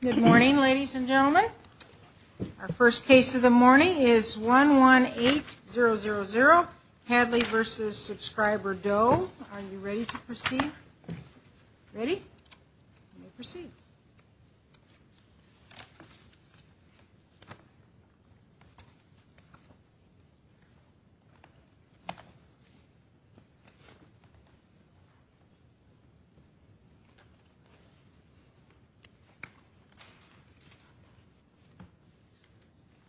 Good morning ladies and gentlemen. Our first case of the morning is 11800 Hadley v. Subscriber Doe. Are you ready to proceed? Ready? Proceed.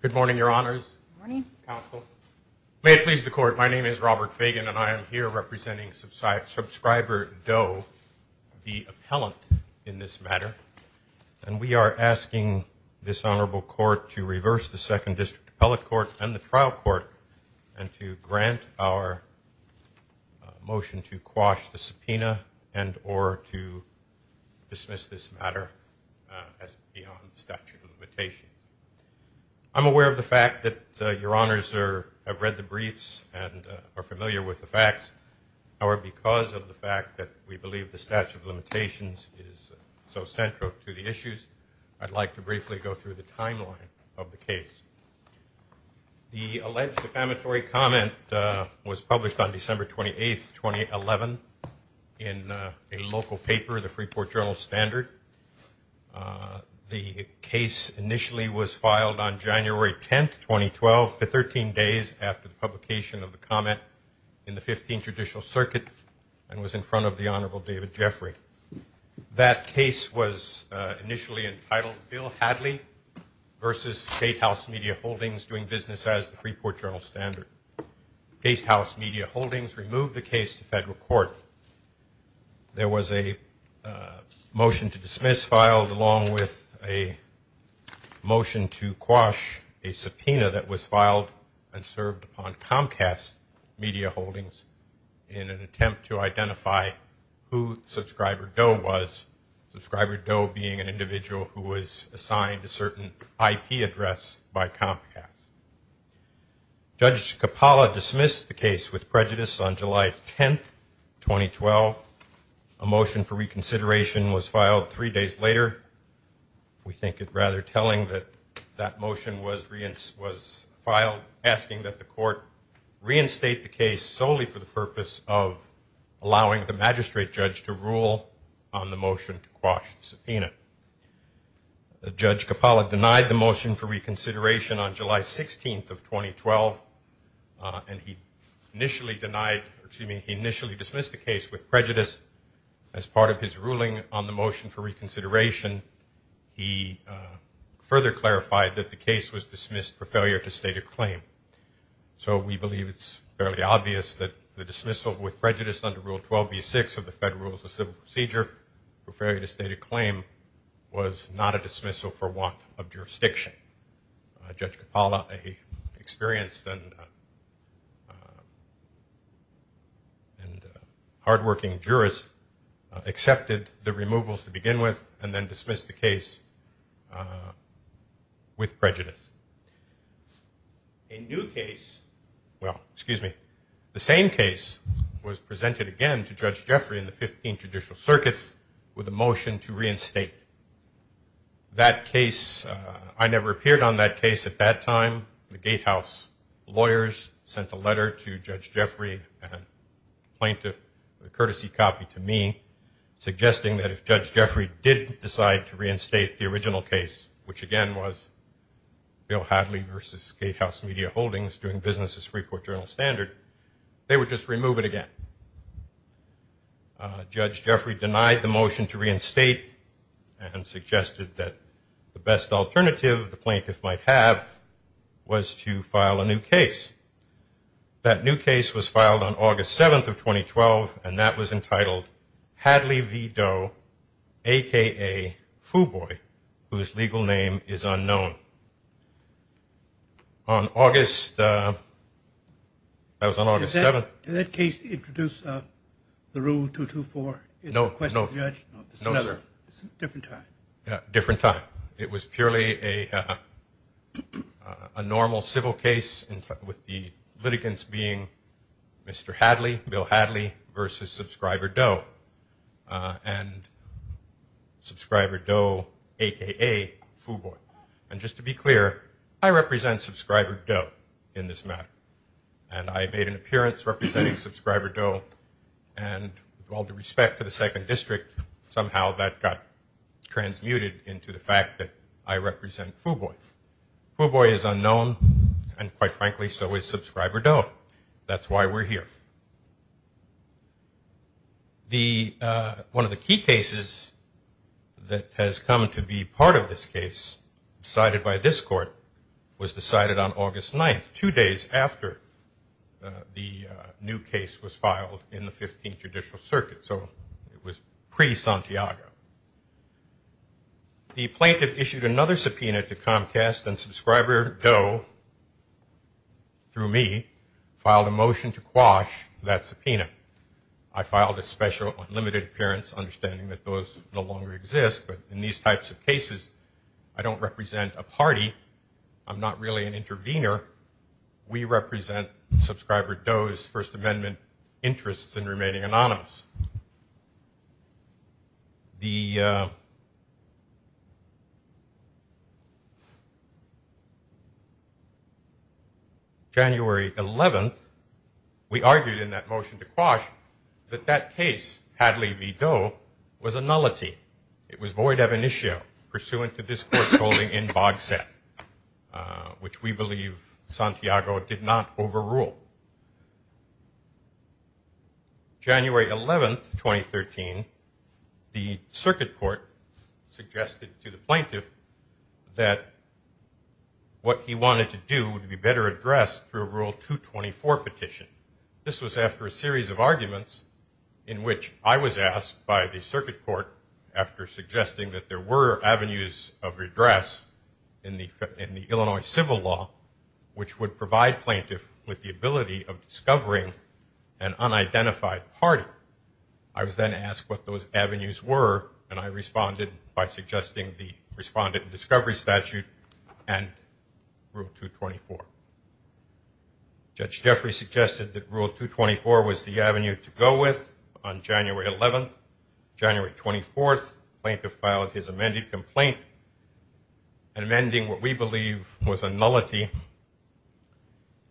Good morning your honors. May it please the court, my name is Robert Fagan and I am here representing Subscriber Doe, the appellant in this matter, and we are asking this honorable court to reverse the second district appellate court and the trial court and to grant our motion to quash the subpoena and or to dismiss this matter. I'm aware of the fact that your honors have read the briefs and are familiar with the facts. However, because of the fact that we believe the statute of limitations is so central to the issues, I'd like to briefly go through the timeline of the case. The alleged defamatory comment was published on December 28, 2011 in a local paper, the Freeport Journal Standard. The case initially was filed on January 10, 2012, 13 days after the publication of the comment in the 15th Judicial Circuit and was in front of the honorable David Jeffrey. That case was initially entitled Bill Hadley v. State House Media Holdings Doing Business as the Freeport Journal Standard. State House Media Holdings removed the case to federal court. There was a motion to dismiss filed along with a motion to quash a subpoena that was filed and served upon Comcast Media Holdings in an attempt to identify who subscribed the media. Subscriber Doe was. Subscriber Doe being an individual who was assigned a certain IP address by Comcast. Judge Capalla dismissed the case with prejudice on July 10, 2012. A motion for reconsideration was filed three days later. We think it's rather telling that that motion was filed asking that the court reinstate the case solely for the purpose of allowing the magistrate judge to rule. Judge Capalla denied the motion for reconsideration on July 16, 2012, and he initially dismissed the case with prejudice as part of his ruling on the motion for reconsideration. He further clarified that the case was dismissed for failure to state a claim. So we believe it's fairly obvious that the dismissal with prejudice under Rule 12b-6 of the Federal Rules of Civil Procedure for failure to state a claim was not a dismissal for want of jurisdiction. Judge Capalla, an experienced and hardworking jurist, accepted the removal to begin with and then dismissed the case with prejudice. Well, excuse me. The same case was presented again to Judge Jeffrey in the 15th Judicial Circuit with a motion to reinstate. That case, I never appeared on that case at that time. The Gatehouse lawyers sent a letter to Judge Jeffrey, a plaintiff, a courtesy copy to me, suggesting that if Judge Jeffrey did decide to reinstate the original case, which again was Bill Hadley versus Gatehouse Media Holdings, that the case would be reinstated. And Judge Jeffrey denied the motion to reinstate and suggested that the best alternative the plaintiff might have was to file a new case. That new case was filed on August 7th of 2012, and that was entitled Hadley v. Doe, a.k.a. Foo Boy, whose legal name is unknown. On August, that was on August 7th. Did that case introduce the Rule 224? No, no, no, sir. Different time. It was purely a normal civil case with the litigants being Mr. Hadley, Bill Hadley, versus Subscriber Doe and Subscriber Doe, a.k.a. Foo Boy. And just to be clear, I represent Subscriber Doe in this matter, and I made an appearance representing Subscriber Doe, and with all due respect to the Second District, somehow that got transmuted into the fact that I represent Foo Boy. Foo Boy is unknown, and quite frankly, so is Subscriber Doe. That's why we're here. One of the key cases that has come to be part of this case, decided by this court, was decided on August 9th, two days after the new case was filed in the 15th Judicial Circuit, so it was pre-Santiago. The plaintiff issued another subpoena to Comcast, and Subscriber Doe, through me, filed a motion to quash that subpoena. I filed a special unlimited appearance, understanding that those no longer exist, but in these types of cases, I don't represent a party. I'm not really an intervener. We represent Subscriber Doe's First Amendment interests in remaining anonymous. The January 11th, we argued in that motion to quash that that case, Hadley v. Doe, was a nullity. It was void of initio, pursuant to this court's holding in Bogset, which we believe Santiago did not overrule. January 11th, 2013, the Circuit Court suggested to the plaintiff that what he wanted to do would be better addressed through a Rule 224 petition. This was after a series of arguments in which I was asked by the Circuit Court, after suggesting that there were avenues of redress in the Illinois Civil Law, which would provide plaintiff with the ability of discovering an unidentified party. I was then asked what those avenues were, and I responded by suggesting the Respondent Discovery Statute and Rule 224. Judge Jeffrey suggested that Rule 224 was the avenue to go with. On January 11th, January 24th, the plaintiff filed his amended complaint, amending what we believe was a nullity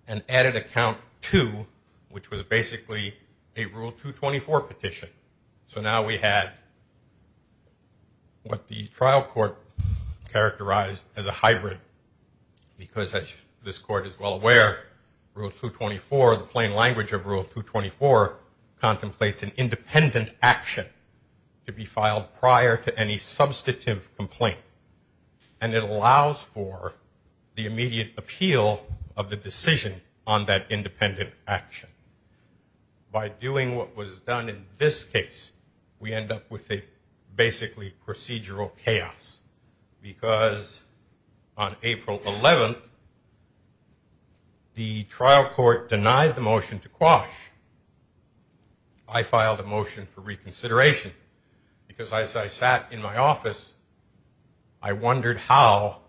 and added a count to, which was basically a Rule 224 petition. So now we had what the trial court characterized as a hybrid, because as this court is well aware, Rule 224, the plain language of Rule 224, contemplates an independent action to be filed prior to any substantive complaint. And it allows for the immediate appeal of the decision on that independent action. By doing what was done in this case, we end up with a basically procedural chaos, because on April 11th, the trial court denied the motion to quash. I filed a motion for reconsideration, because as I sat in my office, I wondered how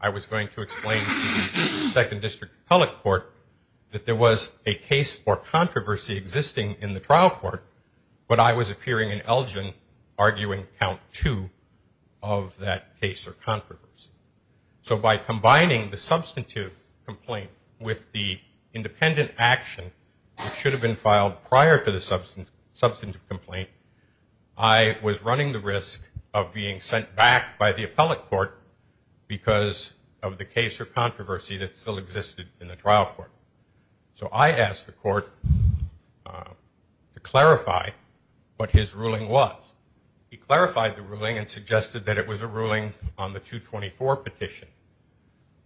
I was going to explain to the Second District Appellate Court that there was a case or controversy existing in the trial court, but I was appearing in Elgin arguing Count 2 of that case or controversy. So by combining the substantive complaint with the independent action that should have been filed prior to the substantive complaint, I was running the risk of being sent back by the Appellate Court, because of the case or controversy that still existed in the trial court. So I asked the court to clarify what his ruling was. He clarified the ruling and suggested that it was a ruling on the 224 petition.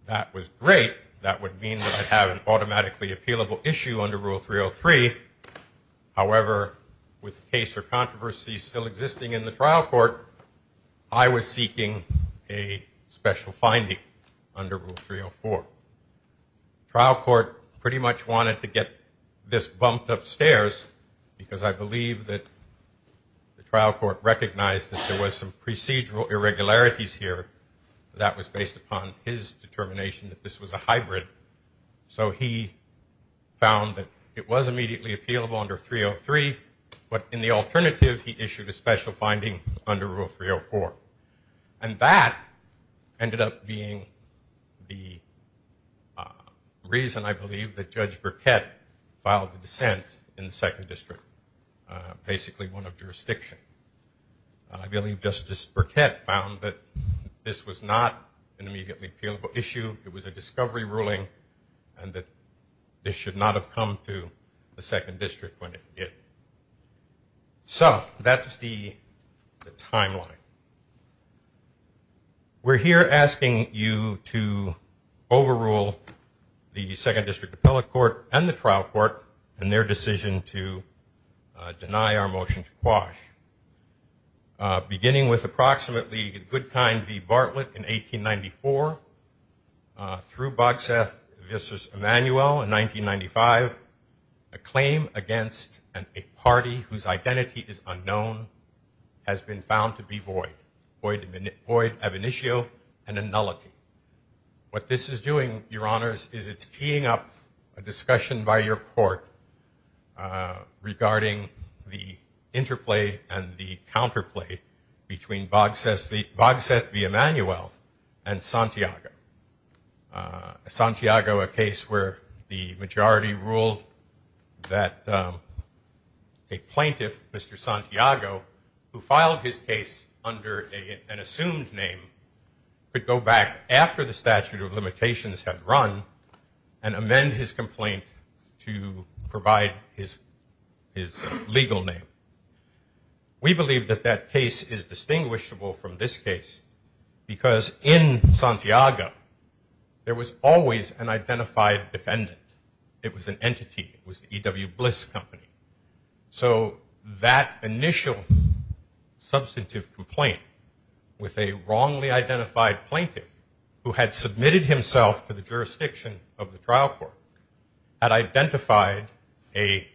That was great. That would mean that I'd have an automatically appealable issue under Rule 303. However, with the case or controversy still existing in the trial court, I was seeking a special finding under Rule 304. The trial court pretty much wanted to get this bumped upstairs, because I believe that the trial court recognized that there was some procedural irregularities here. That was based upon his determination that this was a hybrid. So he found that it was immediately appealable under 303, but in the alternative he issued a special finding under Rule 304. And that ended up being the reason, I believe, that Judge Burkett filed the dissent in the Second District, basically one of jurisdiction. I believe Justice Burkett found that this was not an immediately appealable issue. It was a discovery ruling and that this should not have come to the Second District when it did. So that's the timeline. We're here asking you to overrule the Second District Appellate Court and the trial court and their decision to deny our motion to quash. Beginning with approximately Goodkind v. Bartlett in 1894, through Bogseth v. Emanuel in 1995, a claim against a party whose identity is unknown has been found to be void, void ab initio and a nullity. What this is doing, Your Honors, is it's teeing up a discussion by your court regarding the interplay and the counterplay between Bogseth v. Emanuel and Santiago. Santiago, a case where the majority ruled that a plaintiff, Mr. Santiago, who filed his case under an assumed name, could go back after the statute of limitations had run and amend his complaint to provide his legal name. We believe that that case is distinguishable from this case because in Santiago, there was always an identified defendant. It was an entity. It was the E.W. Bliss Company. So that initial substantive complaint with a wrongly identified plaintiff who had submitted himself to the jurisdiction of the trial court had identified an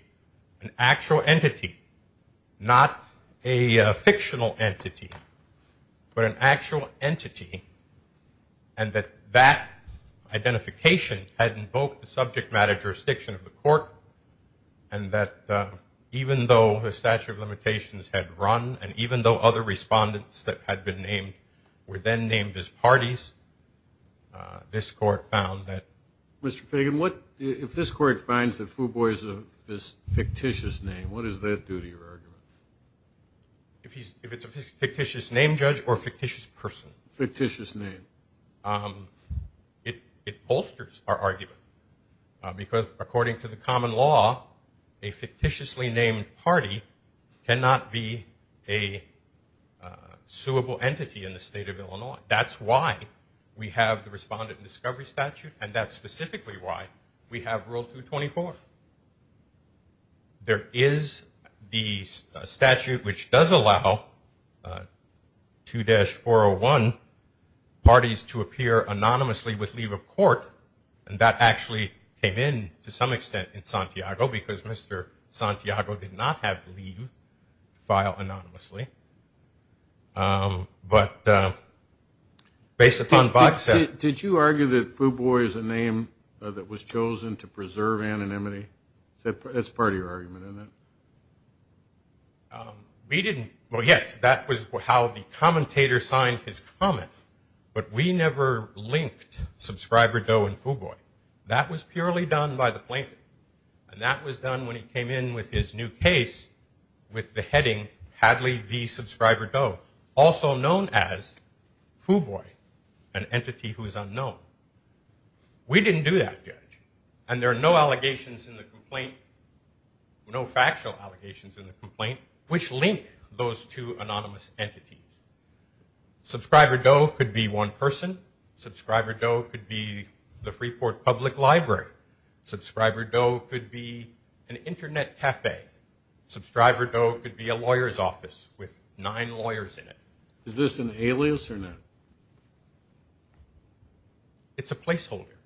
actual entity, not a fictional entity, but an actual entity and that that identification had invoked the subject matter jurisdiction of the court and that even though the statute of limitations had run and even though other respondents that had been named were then named as parties, this court found that. Mr. Fagan, if this court finds that Fuboy is a fictitious name, what does that do to your argument? If it's a fictitious name, Judge, or a fictitious person. Fictitious name. It bolsters our argument because according to the common law, a fictitiously named party cannot be a suable entity in the state of Illinois. That's why we have the Respondent Discovery Statute and that's specifically why we have Rule 224. There is the statute which does allow 2-401 parties to appear anonymously with leave of court and that actually came in to some extent in Santiago because Mr. Santiago did not have leave to file anonymously. But based upon box set. Did you argue that Fuboy is a name that was chosen to preserve anonymity? That's part of your argument, isn't it? We didn't. Well, yes, that was how the commentator signed his comment, but we never linked Subscriber Doe and Fuboy. That was purely done by the plaintiff and that was done when he came in with his new case with the heading Hadley v. Subscriber Doe, also known as Fuboy, an entity who is unknown. We didn't do that, Judge. And there are no allegations in the complaint, no factual allegations in the complaint, which link those two anonymous entities. Subscriber Doe could be one person. Subscriber Doe could be the Freeport Public Library. Subscriber Doe could be an internet cafe. Subscriber Doe could be a lawyer's office with nine lawyers in it. Is this an alias or not? It's a placeholder.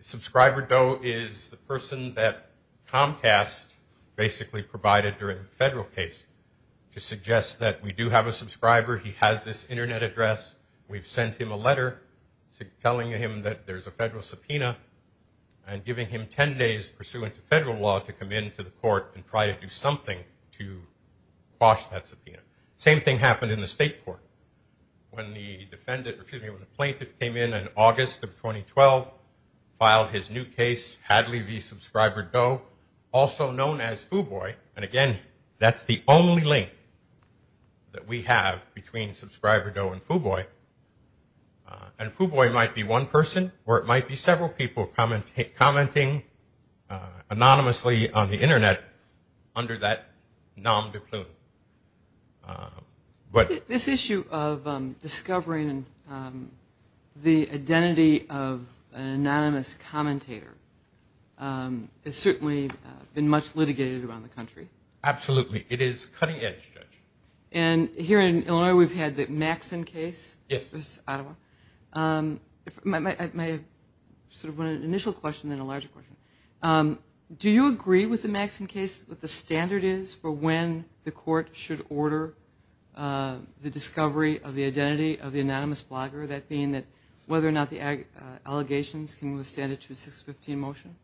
Subscriber Doe is the person that Comcast basically provided during the federal case to suggest that we do have a subscriber. He has this internet address. We've sent him a letter telling him that there's a federal subpoena and giving him ten days pursuant to federal law to come into the court and try to do something to quash that subpoena. Same thing happened in the state court when the plaintiff came in in August of 2012, filed his new case, Hadley v. Subscriber Doe, also known as Fuboy. And, again, that's the only link that we have between Subscriber Doe and Fuboy. And Fuboy might be one person or it might be several people commenting anonymously on the internet under that nom de plume. This issue of discovering the identity of an anonymous commentator has certainly been much litigated around the country. Absolutely. It is cutting edge, Judge. And here in Illinois we've had the Maxson case. Yes. This is Ottawa. My initial question and then a larger question. Do you agree with the Maxson case, what the standard is for when the court should order the discovery of the identity of the anonymous blogger, that being whether or not the allegations can withstand a 2615 motion?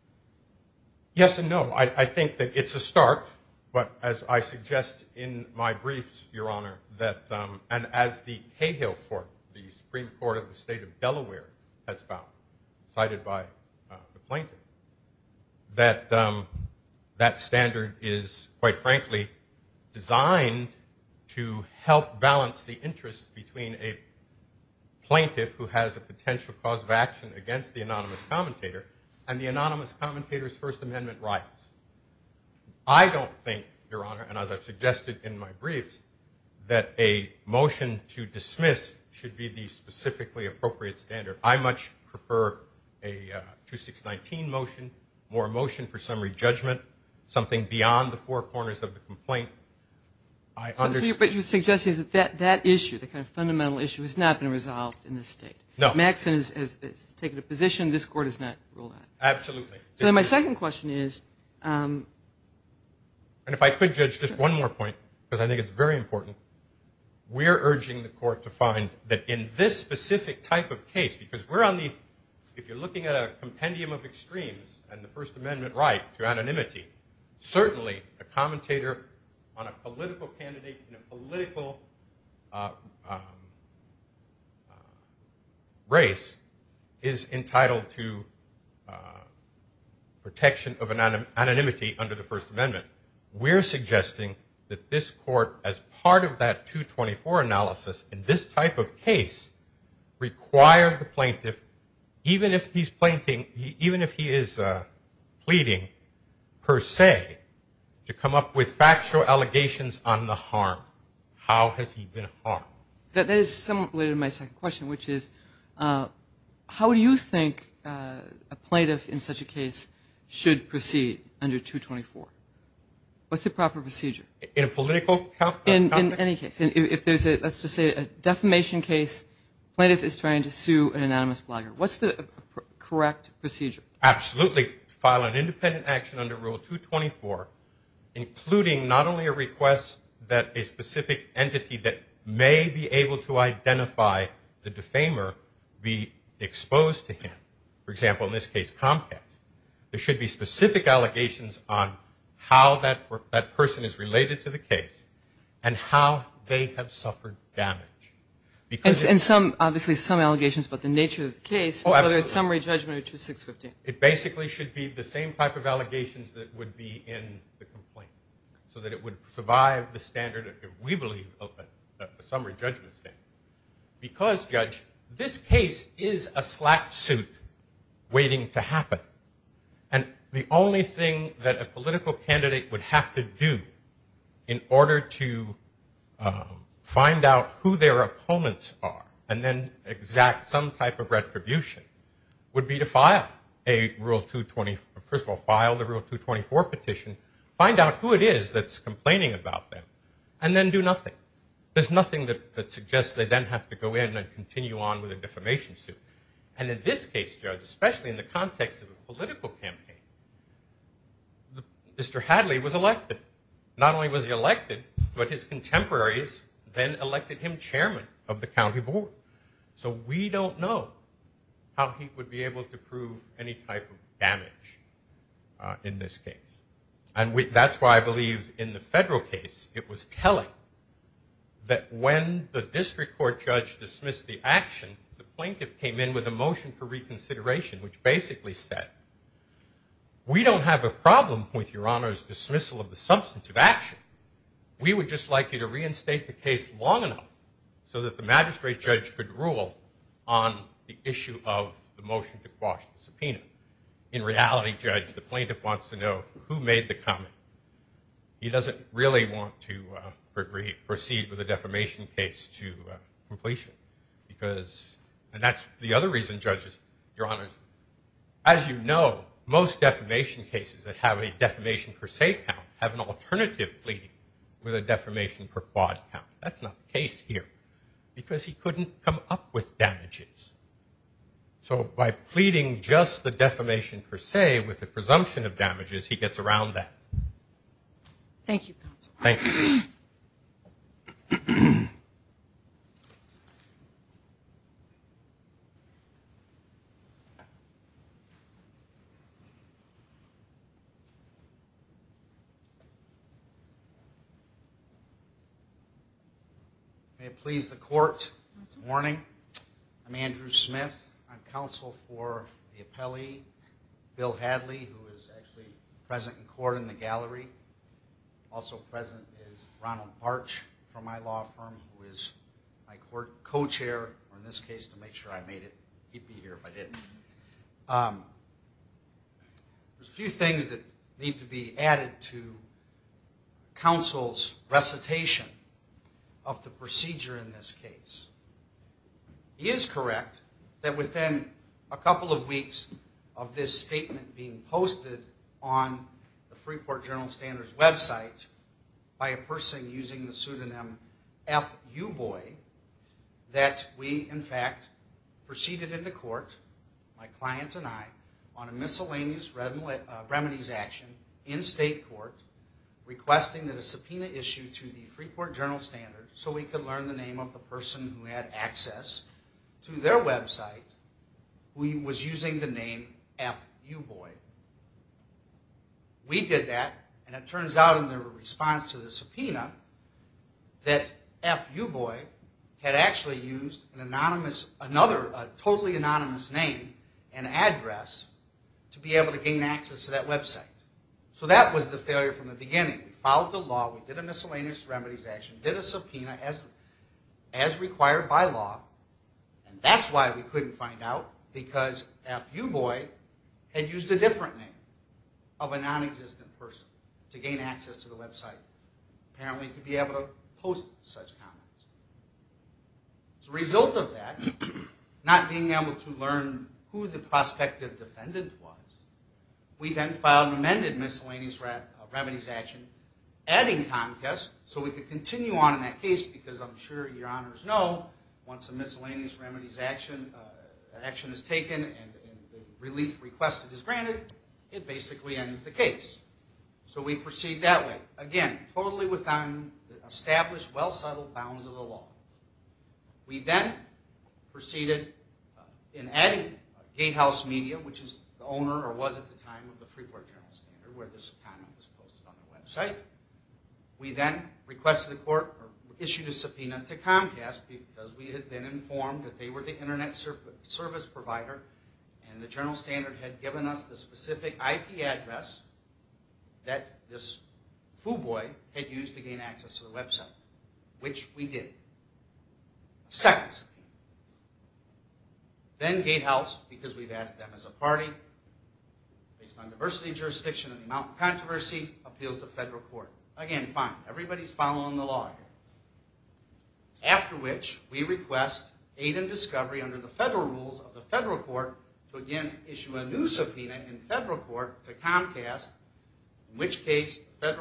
Yes and no. I think that it's a start, but as I suggest in my briefs, Your Honor, and as the Cahill Court, the Supreme Court of the state of Delaware, has found, cited by the plaintiff, that that standard is, quite frankly, designed to help balance the interests between a plaintiff who has a potential cause of action against the anonymous commentator and the anonymous commentator's First Amendment rights. I don't think, Your Honor, and as I've suggested in my briefs, that a motion to dismiss should be the specifically appropriate standard. I much prefer a 2619 motion, more motion for summary judgment, something beyond the four corners of the complaint. But you're suggesting that that issue, the kind of fundamental issue, has not been resolved in this state. No. Maxson has taken a position this court has not ruled on. Absolutely. So then my second question is. And if I could, Judge, just one more point, because I think it's very important. We're urging the court to find that in this specific type of case, because we're on the, if you're looking at a compendium of extremes, and the First Amendment right to anonymity, certainly a commentator on a political candidate in a political race is entitled to protection of anonymity under the First Amendment. We're suggesting that this court, as part of that 224 analysis, in this type of case, require the plaintiff, even if he is pleading per se, to come up with factual allegations on the harm. How has he been harmed? That is somewhat related to my second question, which is how do you think a plaintiff in such a case should proceed under 224? What's the proper procedure? In a political context? In any case. If there's, let's just say, a defamation case, the plaintiff is trying to sue an anonymous blogger. What's the correct procedure? Absolutely. File an independent action under Rule 224, including not only a request that a specific entity that may be able to identify the defamer be exposed to him. For example, in this case Comcast, there should be specific allegations on how that person is related to the case and how they have suffered damage. And obviously some allegations about the nature of the case, whether it's summary judgment or 2650. It basically should be the same type of allegations that would be in the complaint so that it would survive the standard, if we believe, of a summary judgment standard. Because, Judge, this case is a slap suit waiting to happen. And the only thing that a political candidate would have to do in order to find out who their opponents are and then exact some type of retribution would be to file a Rule 224, first of all file the Rule 224 petition, find out who it is that's complaining about them, and then do nothing. There's nothing that suggests they then have to go in and continue on with a defamation suit. And in this case, Judge, especially in the context of a political campaign, Mr. Hadley was elected. Not only was he elected, but his contemporaries then elected him chairman of the county board. So we don't know how he would be able to prove any type of damage in this case. And that's why I believe in the federal case, it was telling that when the district court judge dismissed the action, the plaintiff came in with a motion for reconsideration which basically said, we don't have a problem with Your Honor's dismissal of the substance of action. We would just like you to reinstate the case long enough so that the magistrate judge could rule on the issue of the motion to quash the subpoena. In reality, Judge, the plaintiff wants to know who made the comment. He doesn't really want to proceed with a defamation case to completion because, and that's the other reason, Judge, Your Honor, as you know, most defamation cases that have a defamation per se count have an alternative pleading with a defamation per quad count. That's not the case here because he couldn't come up with damages. So by pleading just the defamation per se with the presumption of damages, he gets around that. Thank you, counsel. Thank you. May it please the court, it's morning. I'm Andrew Smith. I'm counsel for the appellee, Bill Hadley, who is actually present in court in the gallery. Also present is Ronald Barch from my law firm who is my court co-chair, or in this case to make sure I made it, he'd be here if I didn't. There's a few things that need to be added to counsel's recitation of the procedure in this case. He is correct that within a couple of weeks of this statement being posted on the Freeport General Standards website by a person using the pseudonym F. Uboy, that we, in fact, proceeded into court, my client and I, on a miscellaneous remedies action in state court requesting that a subpoena issue to the Freeport General Standards so we could learn the name of the person who had access to their website who was using the name F. Uboy. We did that, and it turns out in their response to the subpoena that F. Uboy had actually used another totally anonymous name and address to be able to gain access to that website. So that was the failure from the beginning. We followed the law. We did a miscellaneous remedies action, did a subpoena as required by law, and that's why we couldn't find out because F. Uboy had used a different name of a non-existent person to gain access to the website apparently to be able to post such comments. As a result of that, not being able to learn who the prospective defendant was, we then filed an amended miscellaneous remedies action adding contest so we could continue on in that case because I'm sure your honors know once a miscellaneous remedies action is taken and the relief requested is granted, it basically ends the case. So we proceed that way. Again, totally within established, well-settled bounds of the law. We then proceeded in adding Gatehouse Media, which is the owner or was at the time of the Freeport Journal Standard where this comment was posted on the website. We then requested the court or issued a subpoena to Comcast because we had been informed that they were the Internet service provider, and the Fuboy had used to gain access to the website, which we did. Second subpoena. Then Gatehouse, because we've added them as a party, based on diversity jurisdiction and the amount of controversy, appeals to federal court. Again, fine. Everybody's following the law here. After which we request aid and discovery under the federal rules of the federal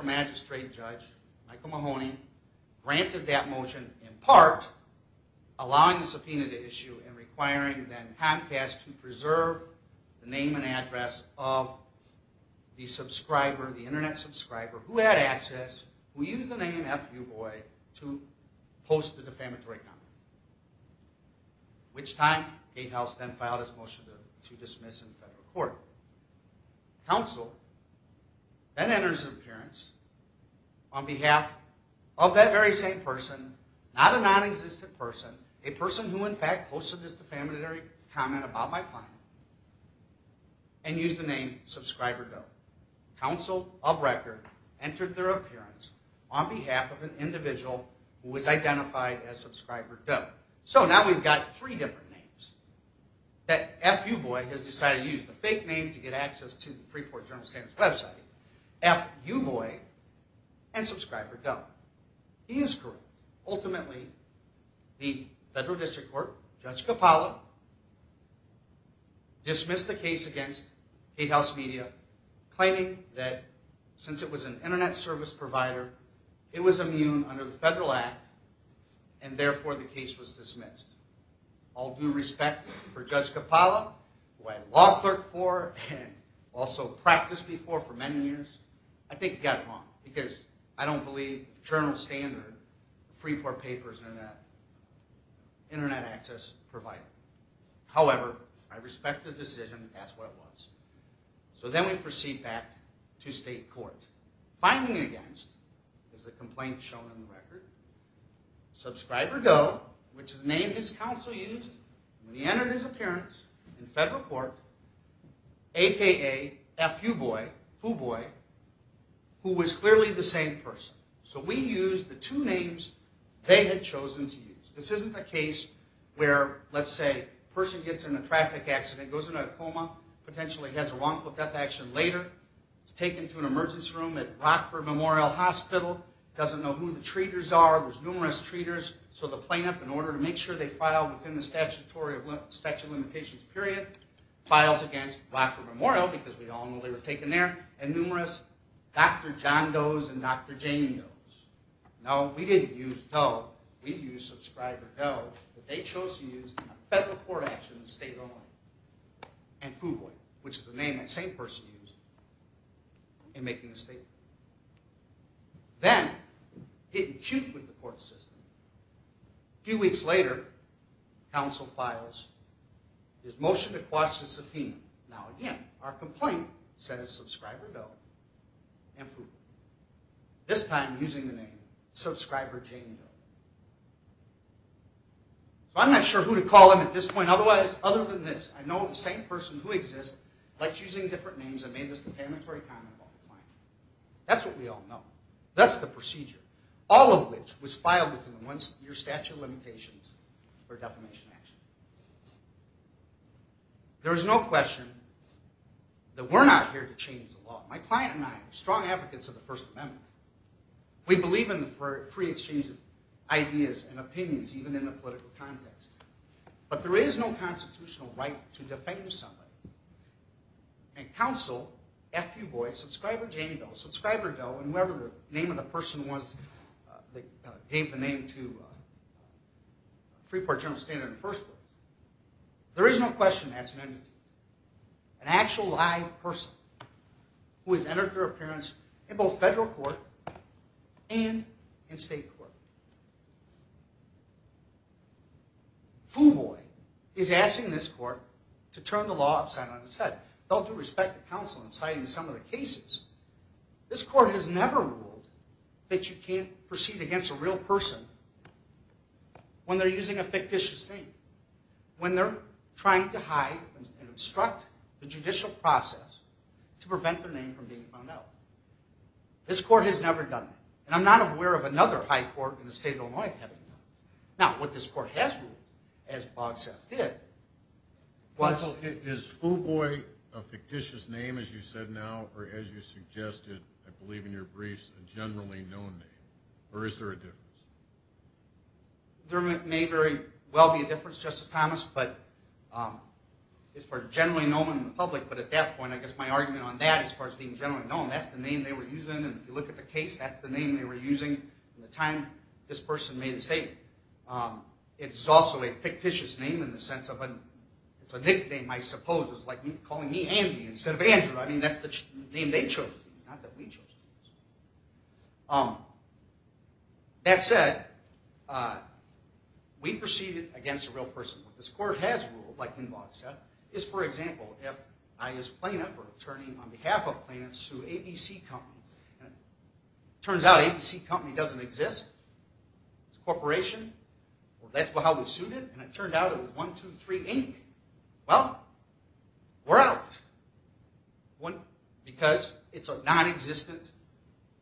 magistrate judge, Michael Mahoney, granted that motion in part allowing the subpoena to issue and requiring then Comcast to preserve the name and address of the subscriber, the Internet subscriber who had access, who used the name Fuboy to post the defamatory comment. Which time Gatehouse then filed its motion to dismiss in federal court. Counsel then enters an appearance on behalf of that very same person, not a non-existent person, a person who in fact posted this defamatory comment about my client and used the name Subscriber Doe. Counsel of record entered their appearance on behalf of an individual who was identified as Subscriber Doe. So now we've got three different names that Fuboy has decided to use. He used the fake name to get access to the Freeport Journal-Standard's website, Fuboy, and Subscriber Doe. He is correct. Ultimately, the federal district court, Judge Capalla, dismissed the case against Gatehouse Media, claiming that since it was an Internet service provider, it was immune under the federal act, and therefore the case was dismissed. All due respect for Judge Capalla, who I law clerked for and also practiced before for many years, I think he got it wrong because I don't believe Journal-Standard, Freeport Papers, Internet access provider. However, I respect his decision. That's what it was. So then we proceed back to state court. Filing against is the complaint shown on the record. Subscriber Doe, which is the name his counsel used when he entered his appearance in federal court, a.k.a. Fuboy, who was clearly the same person. So we used the two names they had chosen to use. This isn't a case where, let's say, a person gets in a traffic accident, goes into a coma, potentially has a wrongful death action later, is taken to an emergency room at Rockford Memorial Hospital, doesn't know who the person is, numerous treaters, so the plaintiff, in order to make sure they file within the statutory limitations period, files against Rockford Memorial because we all know they were taken there, and numerous Dr. John Doe's and Dr. Jane Doe's. No, we didn't use Doe. We used Subscriber Doe, but they chose to use a federal court action in state law and Fuboy, which is the name that same person used in making the statement. Then, hit and shoot with the court system. A few weeks later, counsel files his motion to quash the subpoena. Now, again, our complaint says Subscriber Doe and Fuboy, this time using the name Subscriber Jane Doe. So I'm not sure who to call them at this point. Otherwise, other than this, I know the same person who exists likes using different names and made this defamatory comment about the client. That's what we all know. That's the procedure, all of which was filed within the one-year statute of limitations for defamation action. There is no question that we're not here to change the law. My client and I are strong advocates of the First Amendment. We believe in free exchange of ideas and opinions, even in the political context. But there is no constitutional right to defame somebody. And counsel, Fuboy, Subscriber Jane Doe, Subscriber Doe, and whoever the name of the person was that gave the name to Freeport General Standard in the first place, there is no question that's an entity, an actual live person who has entered their appearance in both federal court and in state court. Fuboy is asking this court to turn the law upside on its head. They'll do respect to counsel in citing some of the cases. This court has never ruled that you can't proceed against a real person when they're using a fictitious name, when they're trying to hide and obstruct the This court has never done that. And I'm not aware of another high court in the state of Illinois having done that. Now, what this court has ruled, as Bogsap did, was... Is Fuboy a fictitious name, as you said now, or, as you suggested, I believe in your briefs, a generally known name? Or is there a difference? There may very well be a difference, Justice Thomas, as far as generally known in the public. But at that point, I guess my argument on that, as far as being generally known, that's the name they were using. And if you look at the case, that's the name they were using at the time this person made the statement. It is also a fictitious name in the sense of it's a nickname, I suppose. It's like calling me Andy instead of Andrew. I mean, that's the name they chose to use, not that we chose to use. That said, we proceeded against a real person. What this court has ruled, like Bogsap, is, for example, if I, as plaintiff, or attorney on behalf of plaintiff, sue ABC Company. And it turns out ABC Company doesn't exist. It's a corporation. That's how we sued it. And it turned out it was 123, Inc. Well, we're out. Because it's a nonexistent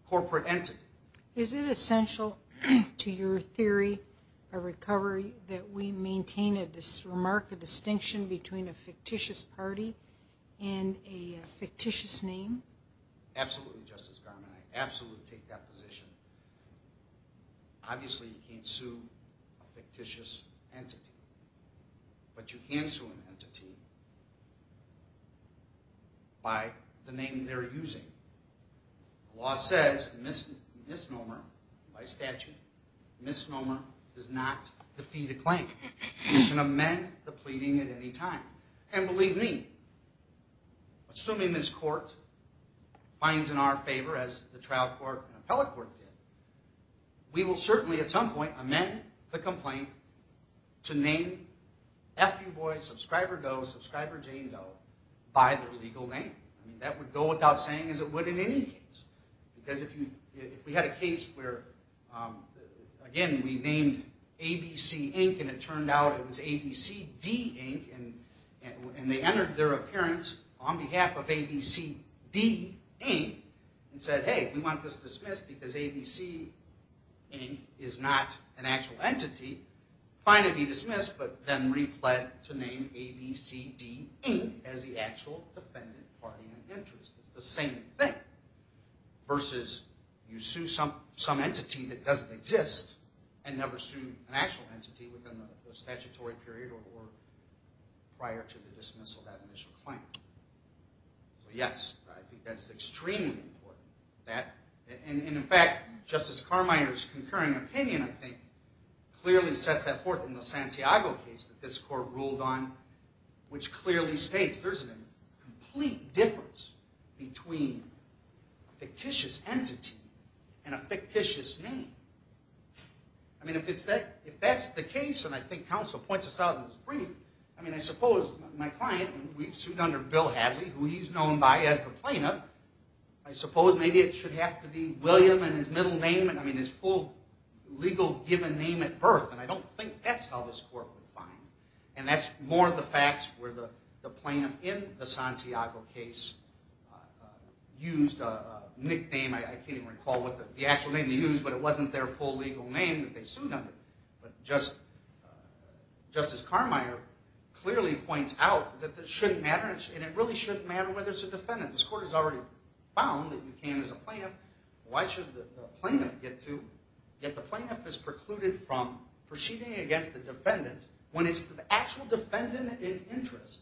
corporate entity. Is it essential to your theory of recovery that we maintain a remark, a distinction between a fictitious party and a fictitious name? Absolutely, Justice Garmon. I absolutely take that position. Obviously, you can't sue a fictitious entity. But you can sue an entity by the name they're using. The law says misnomer by statute. Misnomer does not defeat a claim. You can amend the pleading at any time. And believe me, assuming this court finds in our favor, as the trial court and appellate court did, we will certainly, at some point, amend the complaint to name F.U. Boy, Subscriber Doe, Subscriber Jane Doe, by their legal name. That would go without saying, as it would in any case. Because if we had a case where, again, we named ABC, Inc., and it turned out it was ABCD, Inc., and they entered their appearance on behalf of ABCD, Inc., and said, hey, we want this dismissed because ABC, Inc., is not an actual entity, fine to be dismissed, but then repled to name ABCD, Inc., as the actual defendant party in interest. It's the same thing. Versus you sue some entity that doesn't exist and never sued an actual entity within the statutory period or prior to the dismissal of that initial claim. So, yes, I think that is extremely important. And, in fact, Justice Carmire's concurring opinion, I think, clearly sets that forth in the Santiago case that this court ruled on, which clearly states there's a complete difference between a fictitious entity and a fictitious name. I mean, if that's the case, and I think counsel points us out in his brief, I mean, I suppose my client, and we've sued under Bill Hadley, who he's known by as the plaintiff, I suppose maybe it should have to be William and his middle name, I mean, his full legal given name at birth, and I don't think that's how this court would find him. And that's more the facts where the plaintiff in the Santiago case used a nickname. I can't even recall what the actual name they used, but it wasn't their full legal name that they sued under. But Justice Carmire clearly points out that it shouldn't matter, and it really shouldn't matter whether it's a defendant. This court has already found that you can as a plaintiff. Why should the plaintiff get to? Yet the plaintiff is precluded from proceeding against the defendant when it's the actual defendant in interest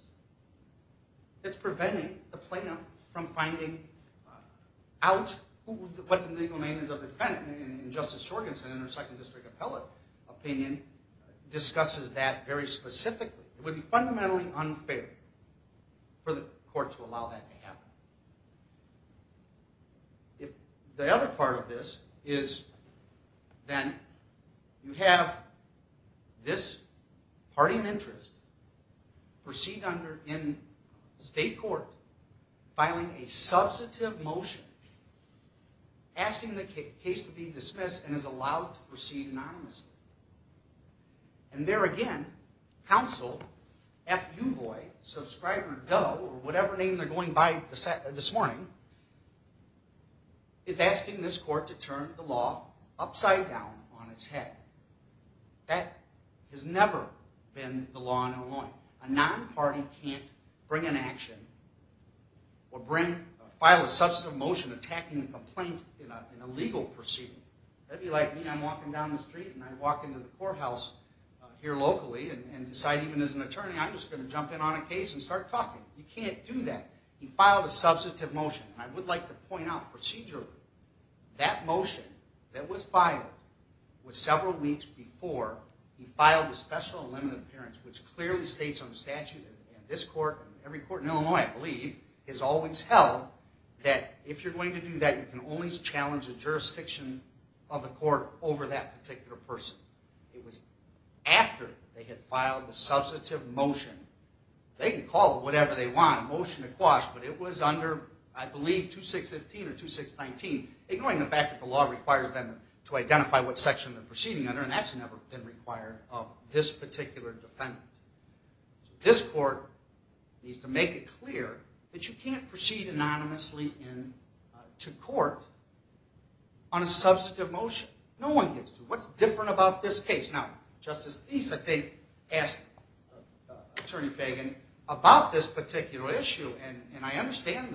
that's preventing the plaintiff from finding out what the legal name is of the defendant. And Justice Sorgenson, in her second district appellate opinion, discusses that very specifically. It would be fundamentally unfair for the court to allow that to happen. The other part of this is that you have this party in interest proceed in state court filing a substantive motion asking the case to be dismissed and is allowed to proceed anonymously. And there again, counsel F. Uboy, subscriber Doe, or whatever name they're going by this morning, is asking this court to turn the law upside down on its head. That has never been the law in Illinois. A non-party can't bring an action or file a substantive motion attacking a complaint in a legal proceeding. That would be like me. I'm walking down the street and I walk into the courthouse here locally and decide, even as an attorney, I'm just going to jump in on a case and start talking. You can't do that. You filed a substantive motion. And I would like to point out procedurally that motion that was filed was several weeks before he filed a special and limited appearance, which clearly states on the statute, and this court and every court in Illinois, I believe, has always held that if you're going to do that, you can only challenge the jurisdiction of the court over that particular person. It was after they had filed the substantive motion. They can call it whatever they want, a motion to quash, but it was under, I believe, 2615 or 2619, ignoring the fact that the law requires them to identify what section they're proceeding under, and that's never been required of this particular defendant. This court needs to make it clear that you can't proceed anonymously into court on a substantive motion. No one gets to it. What's different about this case? Now, Justice East, I think, asked Attorney Fagan about this particular issue, and I understand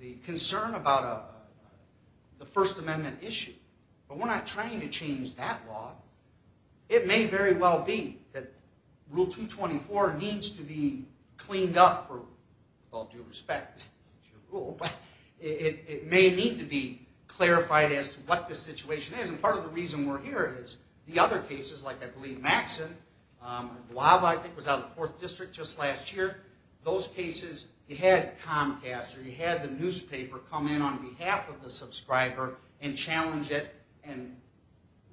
the concern about the First Amendment issue, but we're not trying to change that law. It may very well be that Rule 224 needs to be cleaned up with all due respect to your rule, but it may need to be clarified as to what the situation is, and part of the reason we're here is the other cases, like I believe Maxson, Guava, I think, was out of the 4th District just last year. Those cases, you had Comcast or you had the newspaper come in on behalf of the subscriber and challenge it, and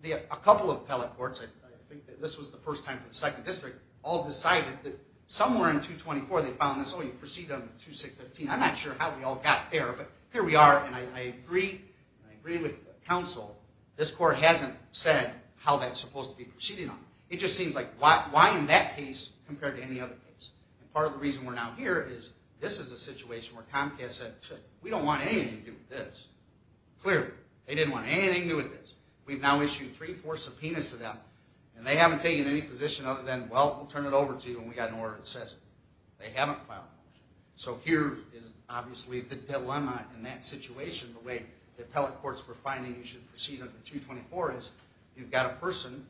a couple of appellate courts, I think this was the first time for the 2nd District, all decided that somewhere in 224 they found this, oh, you proceed under 2615. I'm not sure how we all got there, but here we are, and I agree with counsel. This court hasn't said how that's supposed to be proceeding on. It just seems like why in that case compared to any other case? Part of the reason we're now here is this is a situation where Comcast said, shit, we don't want anything to do with this. Clearly, they didn't want anything to do with this. We've now issued three, four subpoenas to them, and they haven't taken any position other than, well, we'll turn it over to you when we've got an order that says it. They haven't filed a motion. So here is obviously the dilemma in that situation, the way the appellate courts were finding you should proceed under 224, is you've got a person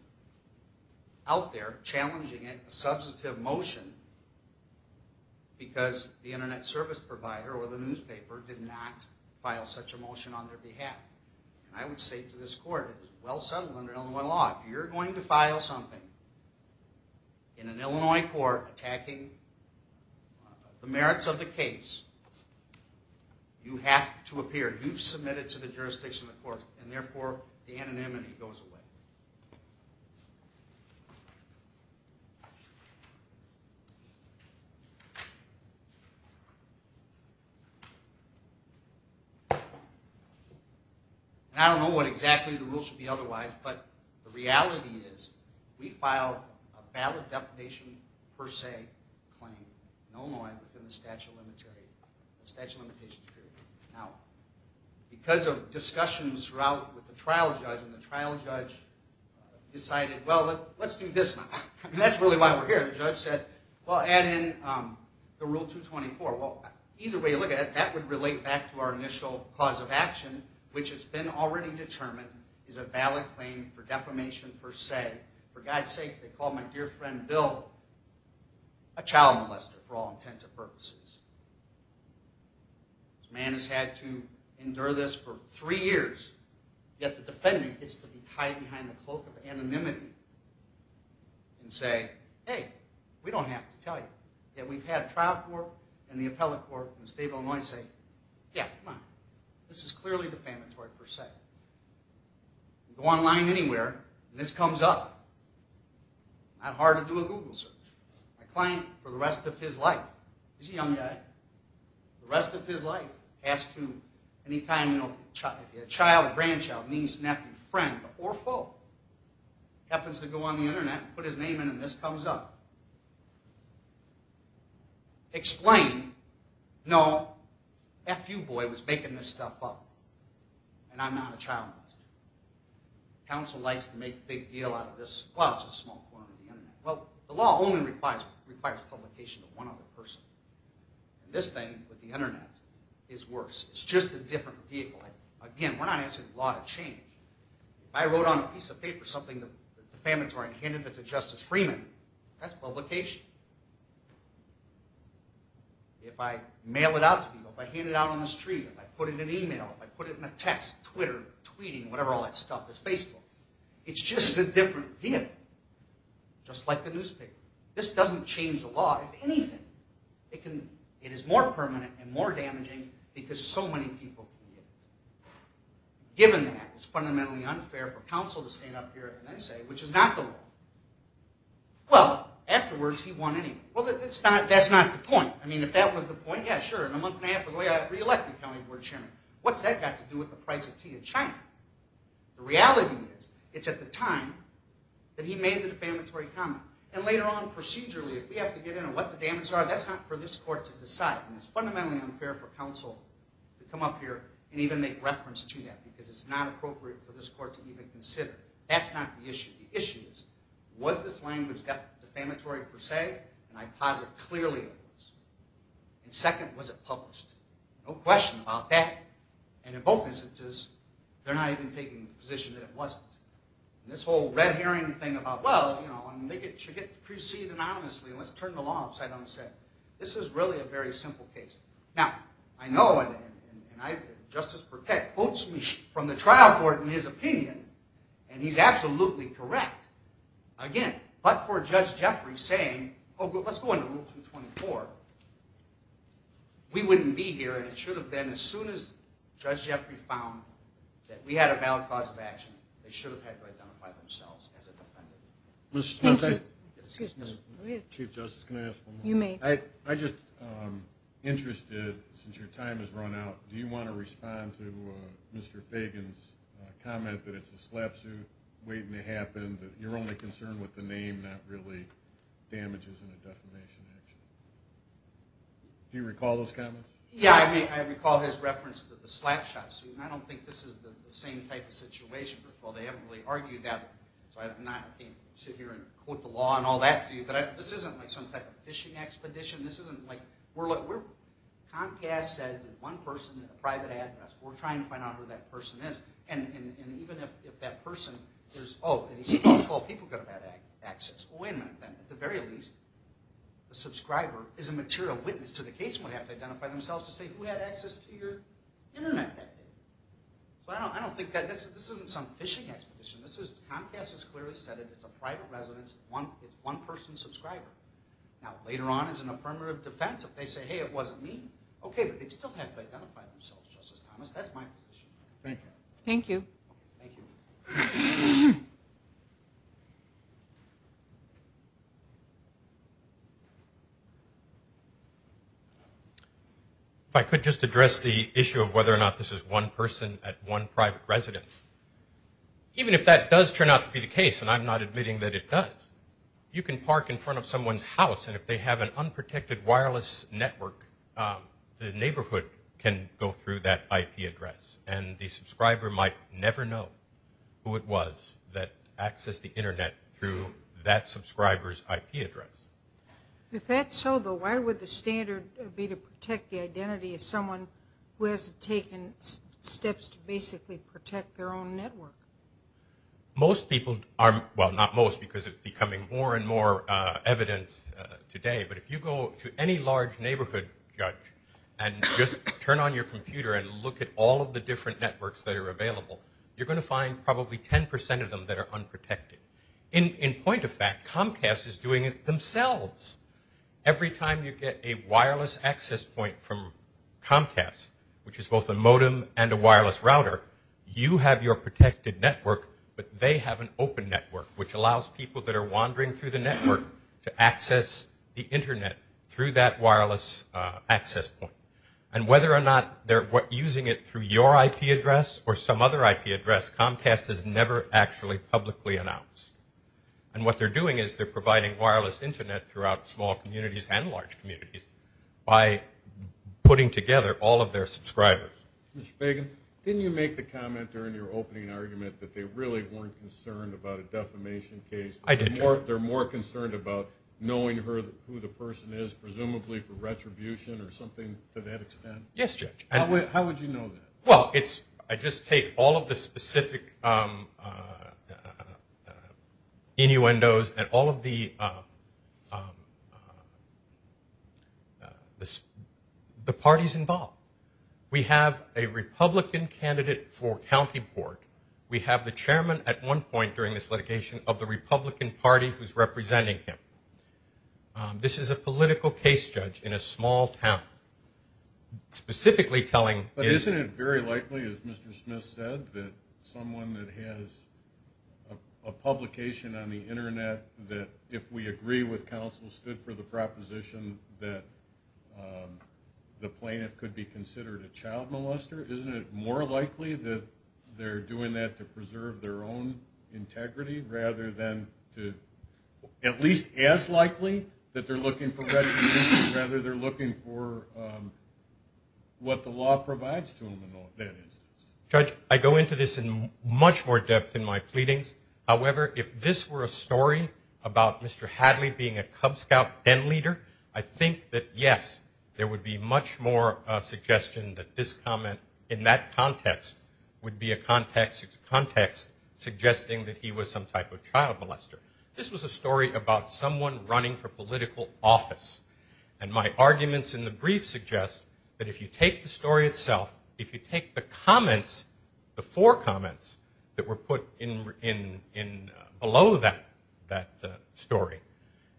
out there challenging it, a substantive motion, because the Internet service provider or the newspaper did not file such a motion on their behalf. And I would say to this court, it was well settled under Illinois law, if you're going to file something in an Illinois court attacking the merits of the case, you have to appear. You've submitted to the jurisdiction of the court, and therefore the anonymity goes away. And I don't know what exactly the rules should be otherwise, but the reality is we filed a valid defamation per se claim, in Illinois, within the statute of limitations period. Now, because of discussions throughout with the trial judge, and the trial judge decided, well, let's do this now. And that's really why we're here. The judge said, well, add in the rule 224. Well, either way you look at it, that would relate back to our initial cause of action, which has been already determined is a valid claim for defamation per se. For God's sake, they called my dear friend Bill a child molester for all intents and purposes. This man has had to endure this for three years, yet the defendant gets to be tied behind the cloak of anonymity and say, hey, we don't have to tell you. Yet we've had trial court and the appellate court in the state of Illinois say, yeah, come on, this is clearly defamatory per se. Go online anywhere, and this comes up. Not hard to do a Google search. My client, for the rest of his life, he's a young guy, the rest of his life he has to, any time a child, grandchild, niece, nephew, friend, or foe happens to go on the Internet, put his name in, and this comes up. Explain, no, F.U. boy was making this stuff up, and I'm not a child molester. Council likes to make a big deal out of this. Well, it's a small corner of the Internet. Well, the law only requires publication of one other person. This thing with the Internet is worse. It's just a different vehicle. Again, we're not asking the law to change. If I wrote on a piece of paper something defamatory and handed it to Justice Freeman, that's publication. If I mail it out to people, if I hand it out on the street, if I put it in an email, if I put it in a text, Twitter, tweeting, whatever all that stuff is, Facebook, it's just a different vehicle. Just like the newspaper. This doesn't change the law, if anything. It is more permanent and more damaging because so many people can get it. Given that, it's fundamentally unfair for council to stand up here at the NSA, which is not the law. Well, afterwards, he won anyway. Well, that's not the point. I mean, if that was the point, yeah, sure, in a month and a half ago, yeah, reelected county board chairman. What's that got to do with the price of tea in China? The reality is, it's at the time that he made the defamatory comment. And later on, procedurally, if we have to get in on what the damages are, that's not for this court to decide. And it's fundamentally unfair for council to come up here and even make reference to that because it's not appropriate for this court to even consider. That's not the issue. The issue is, was this language defamatory per se? And I posit, clearly it was. And second, was it published? No question about that. And in both instances, they're not even taking the position that it wasn't. And this whole red herring thing about, well, you know, it should get preceded anonymously, let's turn the law upside down, this is really a very simple case. Now, I know, and Justice Burkett quotes me from the trial court in his opinion, and he's absolutely correct. Again, but for Judge Jeffrey saying, oh, let's go into Rule 224, we wouldn't be here, and it should have been as soon as Judge Jeffrey found that we had a valid cause of action. They should have had to identify themselves as a defendant. Excuse me. Chief Justice, can I ask one more? You may. I'm just interested, since your time has run out, do you want to respond to Mr. Fagan's comment that it's a slap suit waiting to happen, that you're only concerned with the name, not really damages in a defamation action? Do you recall those comments? Yeah, I recall his reference to the slap shot suit, and I don't think this is the same type of situation. They haven't really argued that, so I can't sit here and quote the law and all that to you, but this isn't like some type of fishing expedition. Comcast said that one person had a private address. We're trying to find out who that person is, and even if that person is, oh, and you see all 12 people could have had access. Well, wait a minute then. At the very least, a subscriber is a material witness to the case and would have to identify themselves to say who had access to your Internet that day. So I don't think that... this isn't some fishing expedition. Comcast has clearly said it. It's a private residence. It's one-person subscriber. Now, later on, as an affirmative defense, if they say, hey, it wasn't me, okay, but they still have to identify themselves, Justice Thomas. That's my position. Thank you. Thank you. If I could just address the issue of whether or not this is one person at one private residence. Even if that does turn out to be the case, and I'm not admitting that it does, you can park in front of someone's house, and if they have an unprotected wireless network, the neighborhood can go through that IP address, and the subscriber might never know who it was that accessed the Internet through that subscriber's IP address. If that's so, though, why would the standard be to protect the identity of someone who has taken steps to basically protect their own network? Most people are... well, not most, because it's becoming more and more evident today, but if you go to any large neighborhood judge and just turn on your computer and look at all of the different networks that are available, you're going to find probably 10% of them that are unprotected. In point of fact, Comcast is doing it themselves. Every time you get a wireless access point from Comcast, which is both a modem and a wireless router, you have your protected network, but they have an open network which allows people that are wandering through the network to access the Internet through that wireless access point. And whether or not they're using it through your IP address or some other IP address, Comcast has never actually publicly announced. And what they're doing is they're providing wireless Internet throughout small communities and large communities by putting together all of their subscribers. Mr. Fagan, didn't you make the comment during your opening argument that they really weren't concerned about a defamation case? I did, Judge. They're more concerned about knowing who the person is, presumably for retribution or something to that extent? Yes, Judge. How would you know that? Well, I just take all of the specific innuendos and all of the parties involved. We have a Republican candidate for county board. We have the chairman at one point during this litigation of the Republican Party who's representing him. This is a political case, Judge, in a small town, specifically telling... But isn't it very likely, as Mr. Smith said, that someone that has a publication on the Internet that if we agree with counsel stood for the proposition that the plaintiff could be considered a child molester? Isn't it more likely that they're doing that to preserve their own integrity rather than to... At least as likely that they're looking for retribution rather they're looking for what the law provides to them in that instance? Judge, I go into this in much more depth in my pleadings. However, if this were a story about Mr. Hadley being a Cub Scout den leader, I think that, yes, there would be much more suggestion that this comment in that context would be a context suggesting that he was some type of child molester. This was a story about someone running for political office. And my arguments in the brief suggest that if you take the story itself, if you take the comments, the four comments, that were put below that story,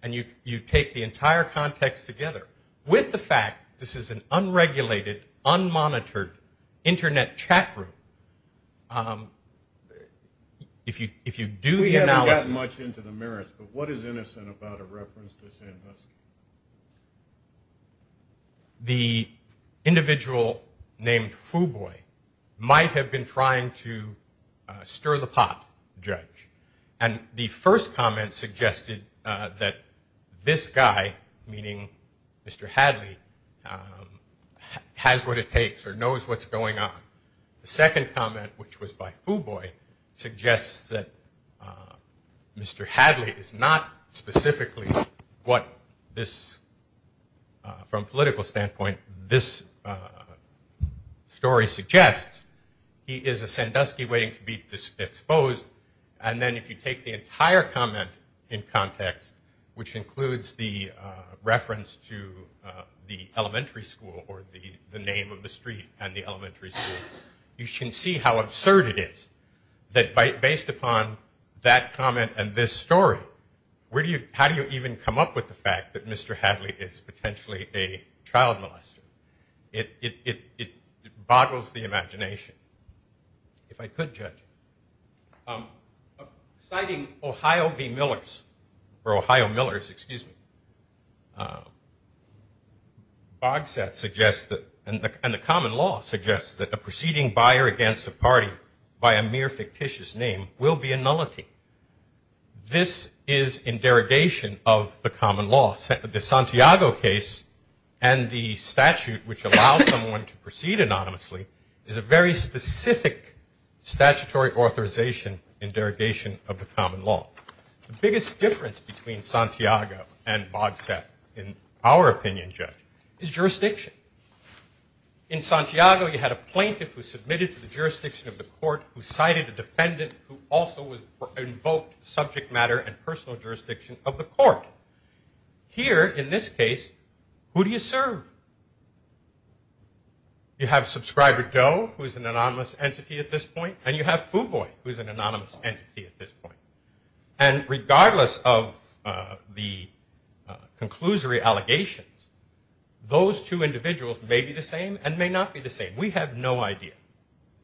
and you take the entire context together with the fact this is an unregulated, unmonitored Internet chat room, if you do the analysis... the individual named Fuboy might have been trying to stir the pot, Judge. And the first comment suggested that this guy, meaning Mr. Hadley, has what it takes or knows what's going on. The second comment, which was by Fuboy, suggests that Mr. Hadley is not specifically what this, from a political standpoint, this story suggests. He is a Sandusky waiting to be exposed. And then if you take the entire comment in context, which includes the reference to the elementary school or the name of the street and the elementary school, you can see how absurd it is that based upon that comment and this story, how do you even come up with the fact that Mr. Hadley is potentially a child molester? It boggles the imagination, if I could, Judge. Citing Ohio v. Millers, or Ohio Millers, excuse me, Bogsat suggests that, and the common law suggests, that a proceeding buyer against a party by a mere fictitious name will be a nullity. This is in derogation of the common law. The Santiago case and the statute which allows someone to proceed anonymously is a very specific statutory authorization in derogation of the common law. The biggest difference between Santiago and Bogsat, in our opinion, Judge, is jurisdiction. In Santiago, you had a plaintiff who submitted to the jurisdiction of the court who cited a defendant who also invoked subject matter and personal jurisdiction of the court. Here, in this case, who do you serve? You have subscriber Doe, who is an anonymous entity at this point, and you have Fuboy, who is an anonymous entity at this point. And regardless of the conclusory allegations, those two individuals may be the same and may not be the same. We have no idea.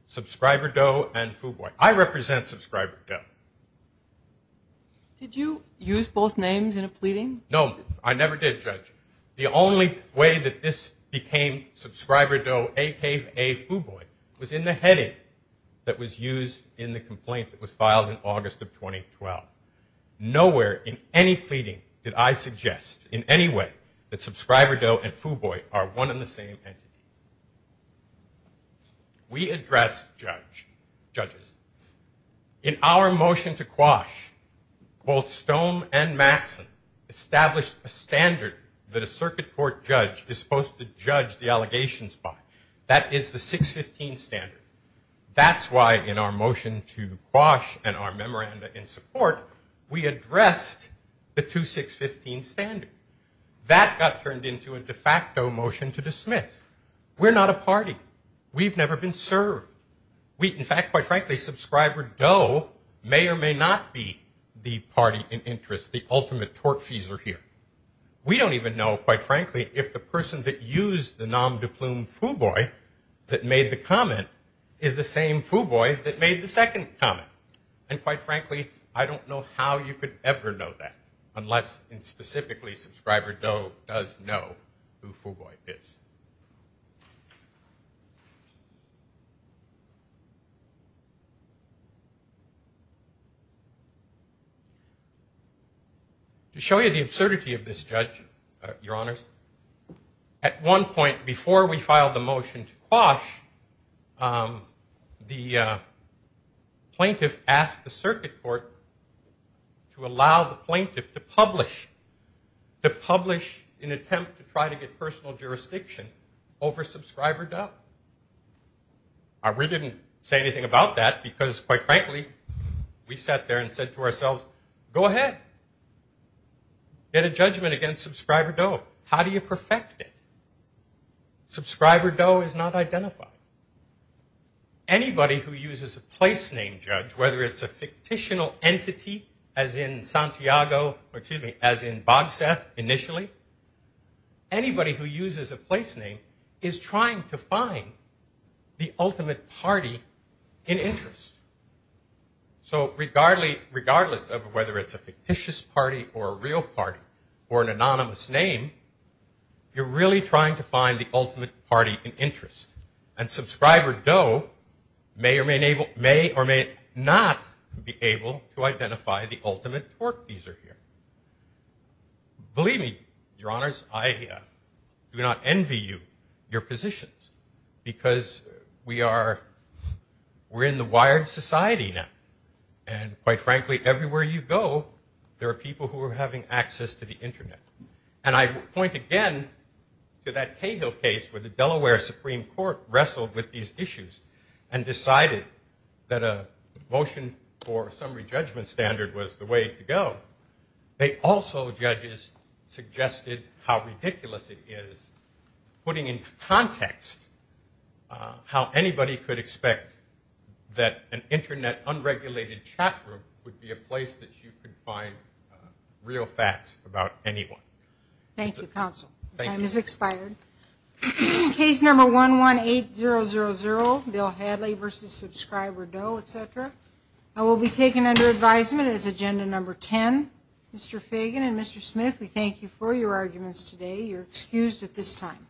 Subscriber Doe and Fuboy. I represent subscriber Doe. Did you use both names in a pleading? No, I never did, Judge. The only way that this became subscriber Doe, a.k.a. Fuboy, was in the heading that was used in the complaint that was filed in August of 2012. Nowhere in any pleading did I suggest, in any way, that subscriber Doe and Fuboy are one and the same entity. We address judges. In our motion to quash, both Stone and Maxson established a standard that a circuit court judge is supposed to judge the allegations by. That is the 615 standard. That's why in our motion to quash and our memoranda in support, we addressed the 2615 standard. That got turned into a de facto motion to dismiss. We're not a party. We've never been served. In fact, quite frankly, subscriber Doe may or may not be the party in interest, the ultimate tortfeasor here. We don't even know, quite frankly, if the person that used the nom de plume Fuboy that made the comment is the same Fuboy that made the second comment. And quite frankly, I don't know how you could ever know that unless specifically subscriber Doe does know who Fuboy is. To show you the absurdity of this, Judge, Your Honors, at one point before we filed the motion to quash, the plaintiff asked the circuit court to allow the plaintiff to publish, in an attempt to try to get personal jurisdiction, over subscriber Doe. We didn't say anything about that because, quite frankly, we sat there and said to ourselves, go ahead. Get a judgment against subscriber Doe. How do you perfect it? Subscriber Doe is not identified. Anybody who uses a place name, Judge, whether it's a fictitional entity, as in Santiago, or excuse me, as in Bogseth initially, anybody who uses a place name is trying to find the ultimate party in interest. So regardless of whether it's a fictitious party or a real party or an anonymous name, you're really trying to find the ultimate party in interest. And subscriber Doe may or may not be able to identify the ultimate tort user here. Believe me, Your Honors, I do not envy you, your positions, because we are in the wired society now. And, quite frankly, everywhere you go, there are people who are having access to the Internet. And I point again to that Cahill case where the Delaware Supreme Court wrestled with these issues and decided that a motion for summary judgment standard was the way to go. They also, judges, suggested how ridiculous it is, putting into context how anybody could expect that an Internet unregulated chat group would be a place that you could find real facts about anyone. Thank you, Counsel. Time has expired. Case number 118000, Bill Hadley v. Subscriber Doe, et cetera, will be taken under advisement as agenda number 10. Mr. Fagan and Mr. Smith, we thank you for your arguments today. You're excused at this time.